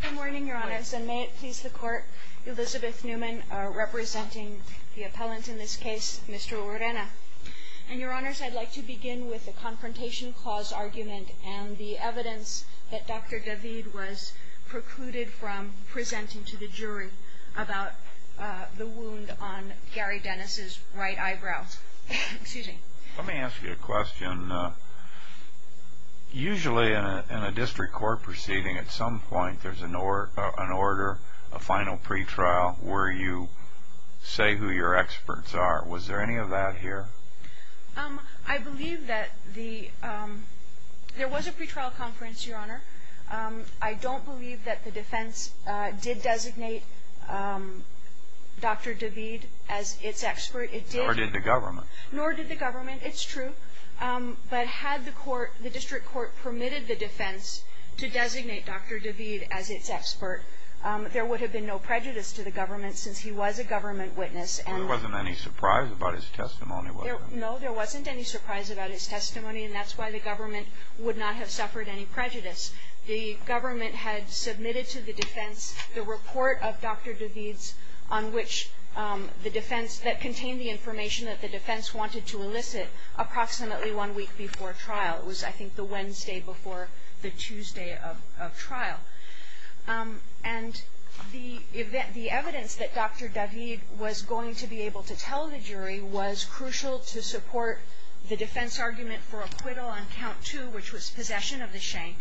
Good morning, your honors, and may it please the court, Elizabeth Newman, representing the appellant in this case, Mr. Urena. And your honors, I'd like to begin with the confrontation clause argument and the evidence that Dr. David was precluded from presenting to the jury about the wound on Gary Dennis' right eyebrow. Excuse me. Let me ask you a question. Usually in a district court proceeding, at some point there's an order, a final pretrial, where you say who your experts are. Was there any of that here? I believe that there was a pretrial conference, your honor. I don't believe that the defense did designate Dr. David as its expert. Nor did the government. Nor did the government. It's true. But had the district court permitted the defense to designate Dr. David as its expert, there would have been no prejudice to the government since he was a government witness. There wasn't any surprise about his testimony, was there? No, there wasn't any surprise about his testimony, and that's why the government would not have suffered any prejudice. The government had submitted to the defense the report of Dr. David's on which the defense, that contained the information that the defense wanted to elicit approximately one week before trial. It was, I think, the Wednesday before the Tuesday of trial. And the evidence that Dr. David was going to be able to tell the jury was crucial to support the defense argument for acquittal on count two, which was possession of the shank.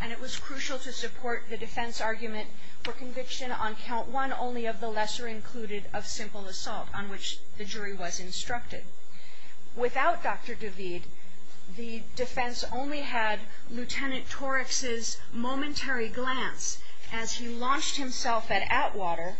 And it was crucial to support the defense argument for conviction on count one, not only of the lesser included of simple assault on which the jury was instructed. Without Dr. David, the defense only had Lieutenant Torex's momentary glance as he launched himself at Atwater,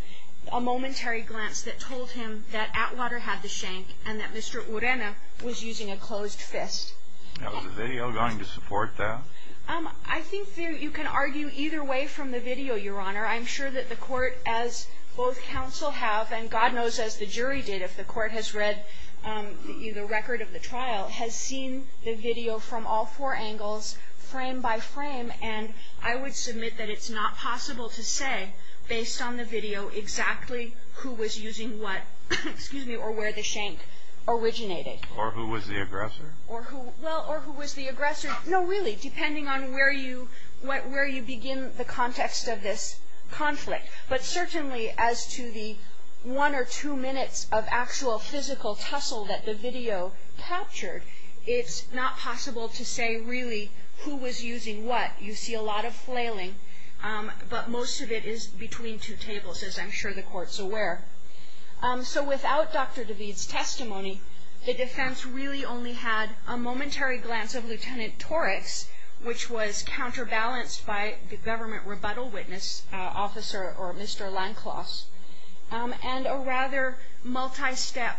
a momentary glance that told him that Atwater had the shank and that Mr. Urena was using a closed fist. Was the video going to support that? I think you can argue either way from the video, Your Honor. I'm sure that the court, as both counsel have, and God knows as the jury did, if the court has read the record of the trial, has seen the video from all four angles, frame by frame. And I would submit that it's not possible to say, based on the video, exactly who was using what, or where the shank originated. Or who was the aggressor? Or who was the aggressor. No, really, depending on where you begin the context of this conflict. But certainly as to the one or two minutes of actual physical tussle that the video captured, it's not possible to say really who was using what. You see a lot of flailing. But most of it is between two tables, as I'm sure the court's aware. So without Dr. DeVete's testimony, the defense really only had a momentary glance of Lt. Torex, which was counterbalanced by the government rebuttal witness, Officer or Mr. Lanklos, and a rather multi-step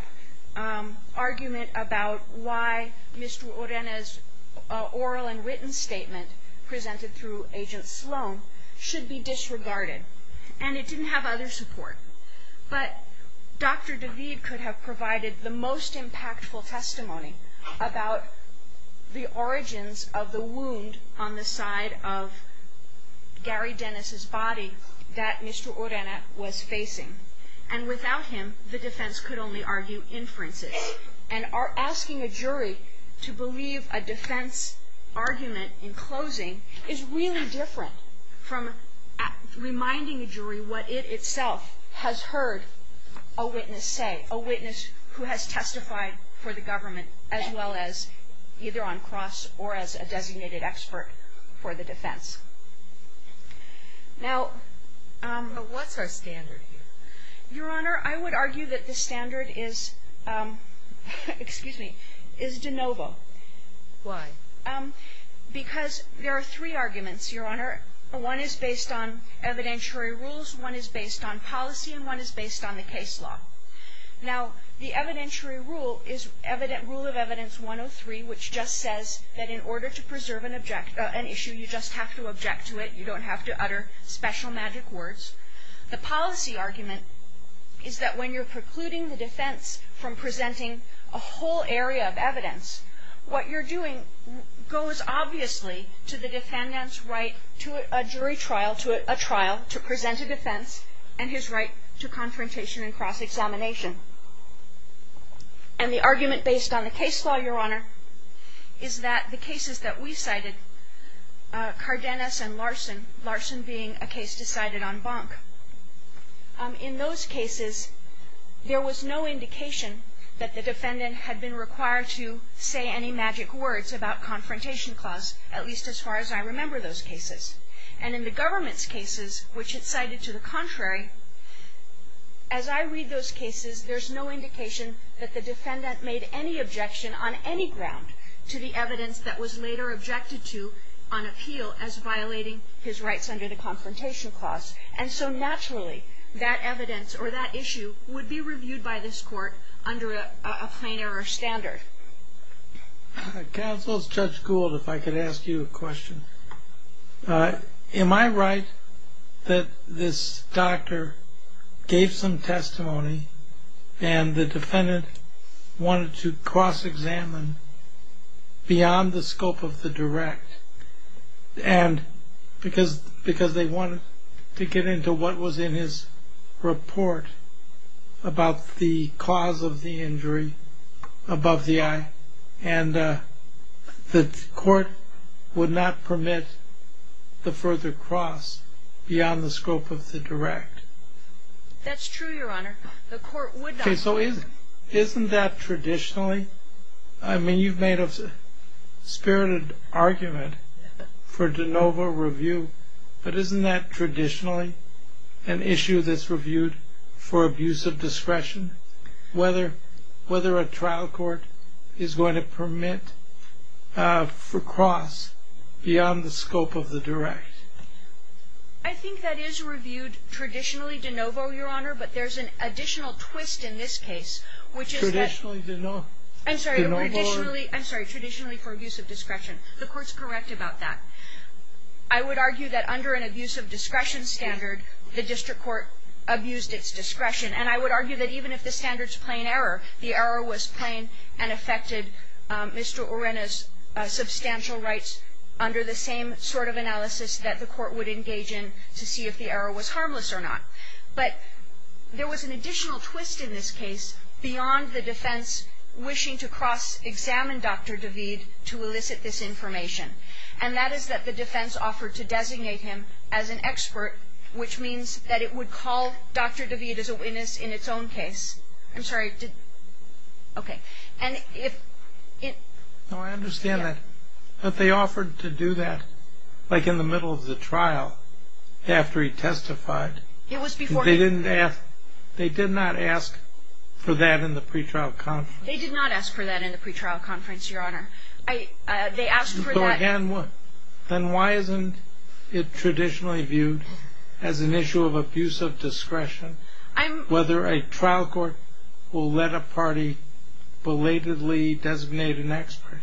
argument about why Mr. Urena's oral and written statement, presented through Agent Sloan, should be disregarded. And it didn't have other support. But Dr. DeVete could have provided the most impactful testimony about the origins of the wound on the side of Gary Dennis's body that Mr. Urena was facing. And without him, the defense could only argue inferences. And asking a jury to believe a defense argument in closing is really different from reminding a jury what it itself has heard a witness say, a witness who has testified for the government, as well as either on cross or as a designated expert for the defense. Now, what's our standard here? Your Honor, I would argue that the standard is, excuse me, is de novo. Why? Because there are three arguments, Your Honor. One is based on evidentiary rules, one is based on policy, and one is based on the case law. Now, the evidentiary rule is Rule of Evidence 103, which just says that in order to preserve an issue, you just have to object to it. You don't have to utter special magic words. The policy argument is that when you're precluding the defense from presenting a whole area of evidence, what you're doing goes obviously to the defendant's right to a jury trial, to a trial to present a defense, and his right to confrontation and cross-examination. And the argument based on the case law, Your Honor, is that the cases that we cited, Cardenas and Larson, Larson being a case decided on Bonk, in those cases, there was no indication that the defendant had been required to say any magic words about confrontation clause, at least as far as I remember those cases. And in the government's cases, which it cited to the contrary, as I read those cases, there's no indication that the defendant made any objection on any ground to the evidence that was later objected to on appeal as violating his rights under the confrontation clause. And so naturally, that evidence or that issue would be reviewed by this court under a plain error standard. Counsel, it's Judge Gould, if I could ask you a question. Am I right that this doctor gave some testimony and the defendant wanted to cross-examine beyond the scope of the direct because they wanted to get into what was in his report about the cause of the injury above the eye, and the court would not permit the further cross beyond the scope of the direct? That's true, Your Honor. The court would not permit it. Okay, so isn't that traditionally, I mean you've made a spirited argument for de novo review, but isn't that traditionally an issue that's reviewed for abuse of discretion, whether a trial court is going to permit for cross beyond the scope of the direct? I think that is reviewed traditionally de novo, Your Honor, but there's an additional twist in this case, which is that Traditionally de novo? I'm sorry, traditionally for abuse of discretion. The court's correct about that. I would argue that under an abuse of discretion standard, the district court abused its discretion, and I would argue that even if the standard's plain error, the error was plain and affected Mr. Urena's substantial rights under the same sort of analysis that the court would engage in to see if the error was harmless or not. But there was an additional twist in this case beyond the defense wishing to cross-examine Dr. Daveed to elicit this information, and that is that the defense offered to designate him as an expert, which means that it would call Dr. Daveed as a witness in its own case. I'm sorry. Okay. No, I understand that. But they offered to do that like in the middle of the trial after he testified. It was before he did. They did not ask for that in the pretrial conference. They did not ask for that in the pretrial conference, Your Honor. They asked for that. Then why isn't it traditionally viewed as an issue of abuse of discretion whether a trial court will let a party belatedly designate an expert?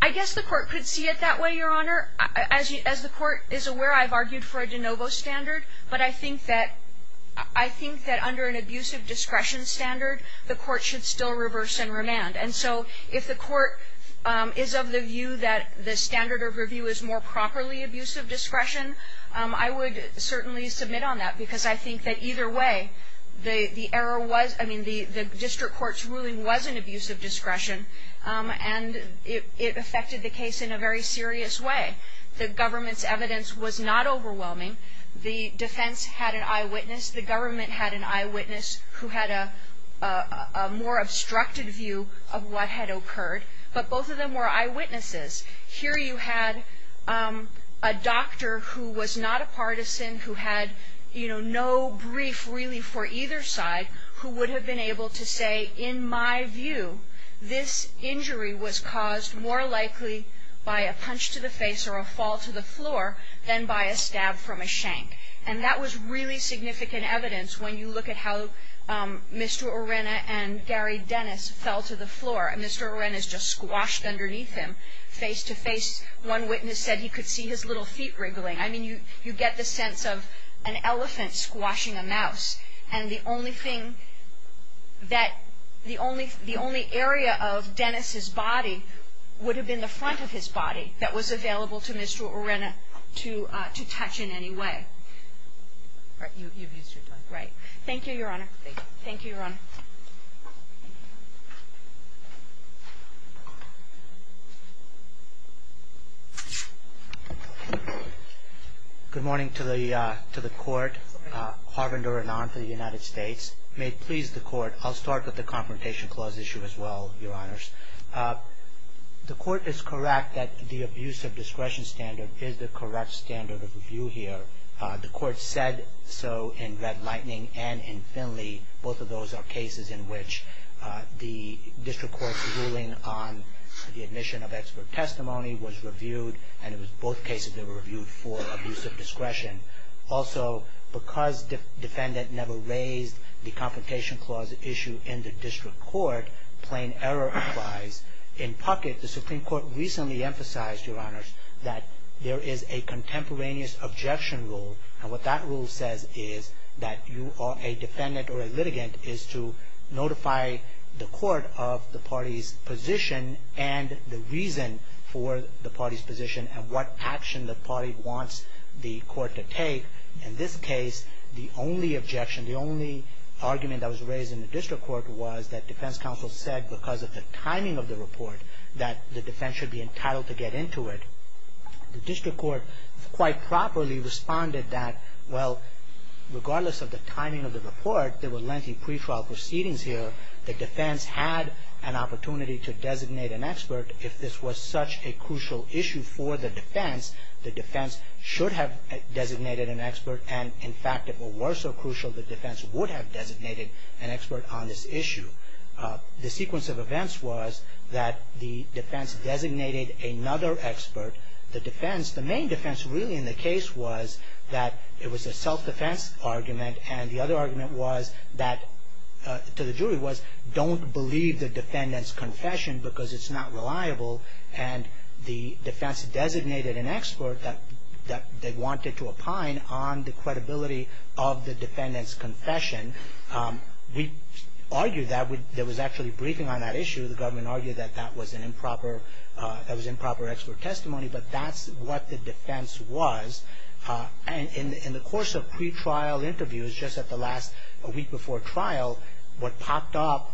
I guess the court could see it that way, Your Honor. As the court is aware, I've argued for a de novo standard, but I think that under an abuse of discretion standard, the court should still reverse and remand. And so if the court is of the view that the standard of review is more properly abuse of discretion, I would certainly submit on that because I think that either way, the district court's ruling was an abuse of discretion, and it affected the case in a very serious way. The government's evidence was not overwhelming. The defense had an eyewitness. The government had an eyewitness who had a more obstructed view of what had occurred. But both of them were eyewitnesses. Here you had a doctor who was not a partisan, who had, you know, no brief really for either side, who would have been able to say, in my view, this injury was caused more likely by a punch to the face or a fall to the floor than by a stab from a shank. And that was really significant evidence when you look at how Mr. Orena and Gary Dennis fell to the floor. And Mr. Orena's just squashed underneath him face to face. One witness said he could see his little feet wriggling. I mean, you get the sense of an elephant squashing a mouse. And the only thing that the only area of Dennis's body would have been the front of his body that was available to Mr. Orena to touch in any way. Right. You've used your time. Thank you, Your Honor. Thank you. Thank you, Your Honor. Thank you. Good morning to the court. Harvinder Anand for the United States. May it please the court. I'll start with the Confrontation Clause issue as well, Your Honors. The court is correct that the abuse of discretion standard is the correct standard of review here. The court said so in Red Lightning and in Finley. Both of those are cases in which the district court's ruling on the admission of expert testimony was reviewed. And it was both cases that were reviewed for abuse of discretion. Also, because the defendant never raised the Confrontation Clause issue in the district court, plain error applies. In Puckett, the Supreme Court recently emphasized, Your Honors, that there is a contemporaneous objection rule. And what that rule says is that you are a defendant or a litigant is to notify the court of the party's position and the reason for the party's position and what action the party wants the court to take. In this case, the only objection, the only argument that was raised in the district court was that defense counsel said because of the timing of the report that the defense should be entitled to get into it. The district court quite properly responded that, well, regardless of the timing of the report, there were lengthy pretrial proceedings here. The defense had an opportunity to designate an expert. If this was such a crucial issue for the defense, the defense should have designated an expert. And, in fact, if it were so crucial, the defense would have designated an expert on this issue. The sequence of events was that the defense designated another expert. The defense, the main defense really in the case was that it was a self-defense argument. And the other argument was that, to the jury, was don't believe the defendant's confession because it's not reliable. And the defense designated an expert that they wanted to opine on the credibility of the defendant's confession. We argued that. There was actually a briefing on that issue. The government argued that that was an improper, that was improper expert testimony. But that's what the defense was. And in the course of pretrial interviews, just at the last, a week before trial, what popped up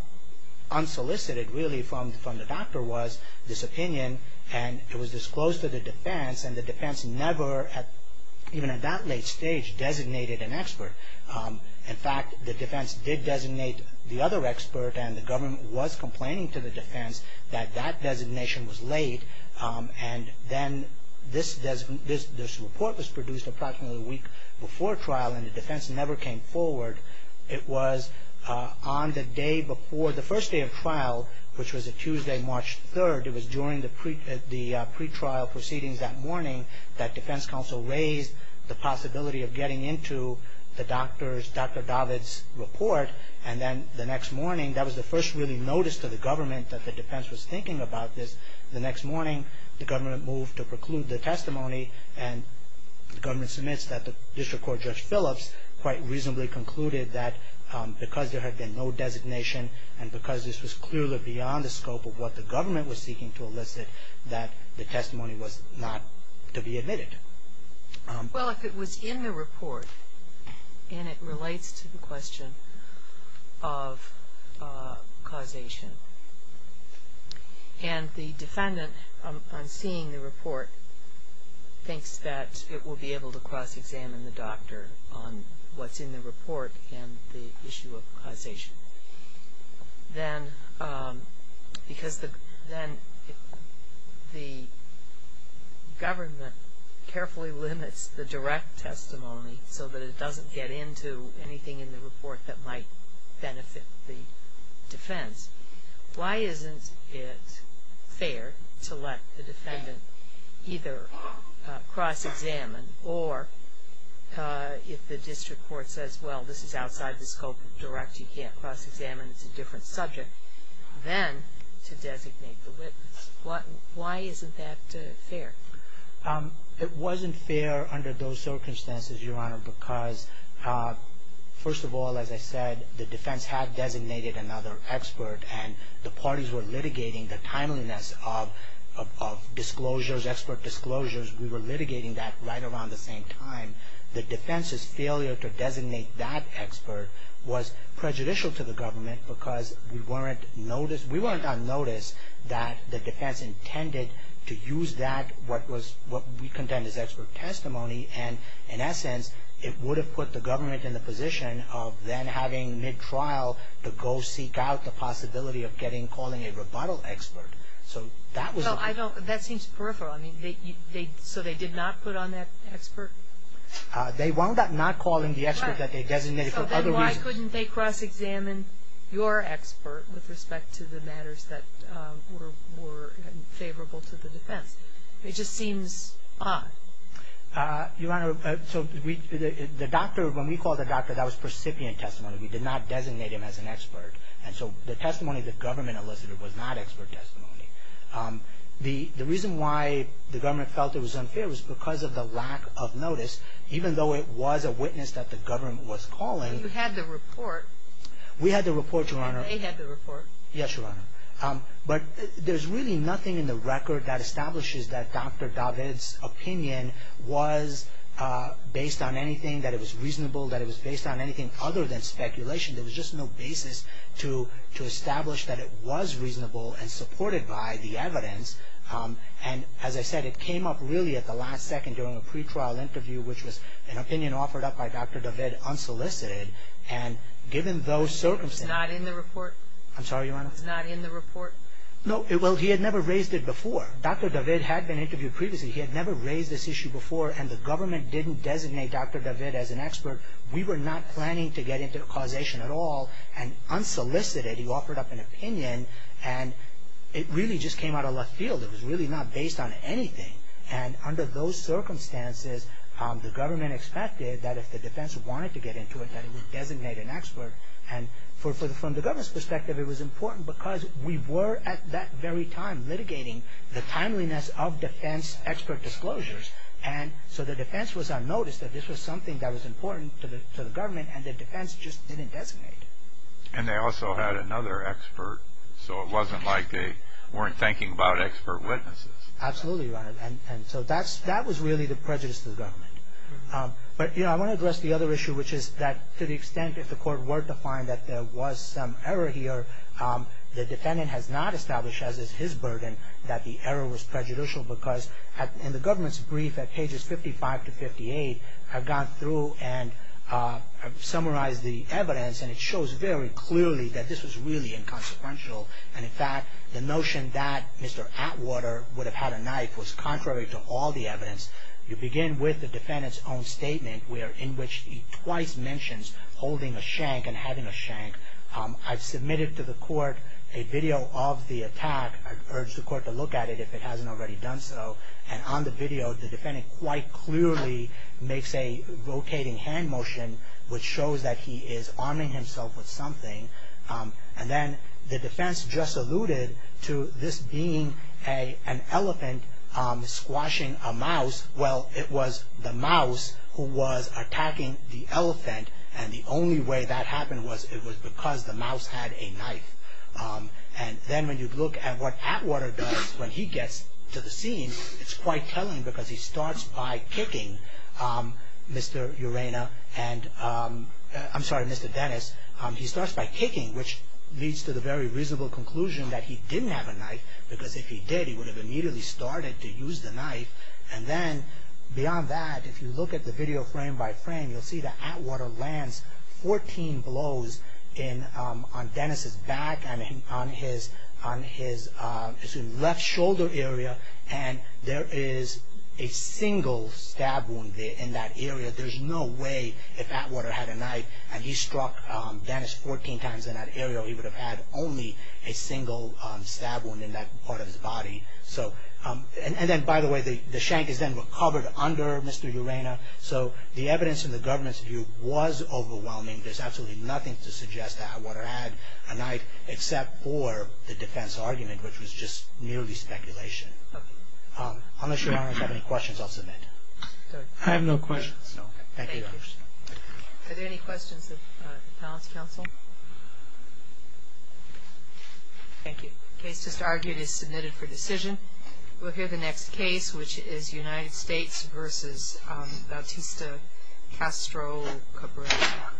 unsolicited really from the doctor was this opinion. And it was disclosed to the defense. And the defense never, even at that late stage, designated an expert. In fact, the defense did designate the other expert. And the government was complaining to the defense that that designation was late. And then this report was produced approximately a week before trial. And the defense never came forward. It was on the day before, the first day of trial, which was a Tuesday, March 3rd. It was during the pretrial proceedings that morning that defense counsel raised the possibility of getting into the doctor's, Dr. Davids' report. And then the next morning, that was the first really notice to the government that the defense was thinking about this. The next morning, the government moved to preclude the testimony. And the government submits that the district court, Judge Phillips, quite reasonably concluded that because there had been no designation and because this was clearly beyond the scope of what the government was seeking to elicit, that the testimony was not to be admitted. Well, if it was in the report, and it relates to the question of causation, and the defendant on seeing the report thinks that it will be able to cross-examine the doctor on what's in the report and the issue of causation, then because the government carefully limits the direct testimony so that it doesn't get into anything in the report that might benefit the defense, why isn't it fair to let the defendant either cross-examine, or if the district court says, well, this is outside the scope of direct, you can't cross-examine, it's a different subject, then to designate the witness. Why isn't that fair? It wasn't fair under those circumstances, Your Honor, because first of all, as I said, the defense had designated another expert, and the parties were litigating the timeliness of disclosures, expert disclosures. We were litigating that right around the same time. The defense's failure to designate that expert was prejudicial to the government because we weren't on notice that the defense intended to use that, what we contend is expert testimony, and in essence, it would have put the government in the position of then having mid-trial to go seek out the possibility of getting, calling a rebuttal expert. So that was the case. Well, I don't, that seems peripheral. I mean, so they did not put on that expert? They wound up not calling the expert that they designated for other reasons. Why couldn't they cross-examine your expert with respect to the matters that were favorable to the defense? It just seems odd. Your Honor, so the doctor, when we called the doctor, that was recipient testimony. We did not designate him as an expert, and so the testimony the government elicited was not expert testimony. The reason why the government felt it was unfair was because of the lack of notice, even though it was a witness that the government was calling. But you had the report. We had the report, Your Honor. And they had the report. Yes, Your Honor. But there's really nothing in the record that establishes that Dr. David's opinion was based on anything, that it was reasonable, that it was based on anything other than speculation. There was just no basis to establish that it was reasonable and supported by the evidence. And as I said, it came up really at the last second during a pretrial interview, which was an opinion offered up by Dr. David unsolicited, and given those circumstances. It's not in the report? I'm sorry, Your Honor. It's not in the report? No. Well, he had never raised it before. Dr. David had been interviewed previously. He had never raised this issue before, and the government didn't designate Dr. David as an expert. We were not planning to get into causation at all, and unsolicited, he offered up an opinion, and it really just came out of left field. It was really not based on anything. And under those circumstances, the government expected that if the defense wanted to get into it, that it would designate an expert. And from the government's perspective, it was important because we were at that very time litigating the timeliness of defense expert disclosures. And so the defense was unnoticed that this was something that was important to the government, and the defense just didn't designate it. And they also had another expert, so it wasn't like they weren't thinking about expert witnesses. Absolutely right. And so that was really the prejudice to the government. But, you know, I want to address the other issue, which is that to the extent if the court were to find that there was some error here, the defendant has not established, as is his burden, that the error was prejudicial because in the government's brief at pages 55 to 58, I've gone through and summarized the evidence, and it shows very clearly that this was really inconsequential. And, in fact, the notion that Mr. Atwater would have had a knife was contrary to all the evidence. You begin with the defendant's own statement in which he twice mentions holding a shank and having a shank. I've submitted to the court a video of the attack. I've urged the court to look at it if it hasn't already done so. And on the video, the defendant quite clearly makes a rotating hand motion, which shows that he is arming himself with something. And then the defense just alluded to this being an elephant squashing a mouse. Well, it was the mouse who was attacking the elephant, and the only way that happened was it was because the mouse had a knife. And then when you look at what Atwater does when he gets to the scene, it's quite telling because he starts by kicking Mr. Urena, I'm sorry, Mr. Dennis. He starts by kicking, which leads to the very reasonable conclusion that he didn't have a knife, because if he did, he would have immediately started to use the knife. And then beyond that, if you look at the video frame by frame, you'll see that Atwater lands 14 blows on Dennis' back and on his left shoulder area, and there is a single stab wound in that area. There's no way if Atwater had a knife and he struck Dennis 14 times in that area, he would have had only a single stab wound in that part of his body. And then, by the way, the shank is then recovered under Mr. Urena. So the evidence in the government's view was overwhelming. There's absolutely nothing to suggest that Atwater had a knife, except for the defense argument, which was just merely speculation. Unless Your Honor has any questions, I'll submit. I have no questions. Thank you, Your Honor. Thank you. Are there any questions of the Appellant's counsel? Thank you. The case just argued is submitted for decision. We'll hear the next case, which is United States v. Bautista Castro Cabrera.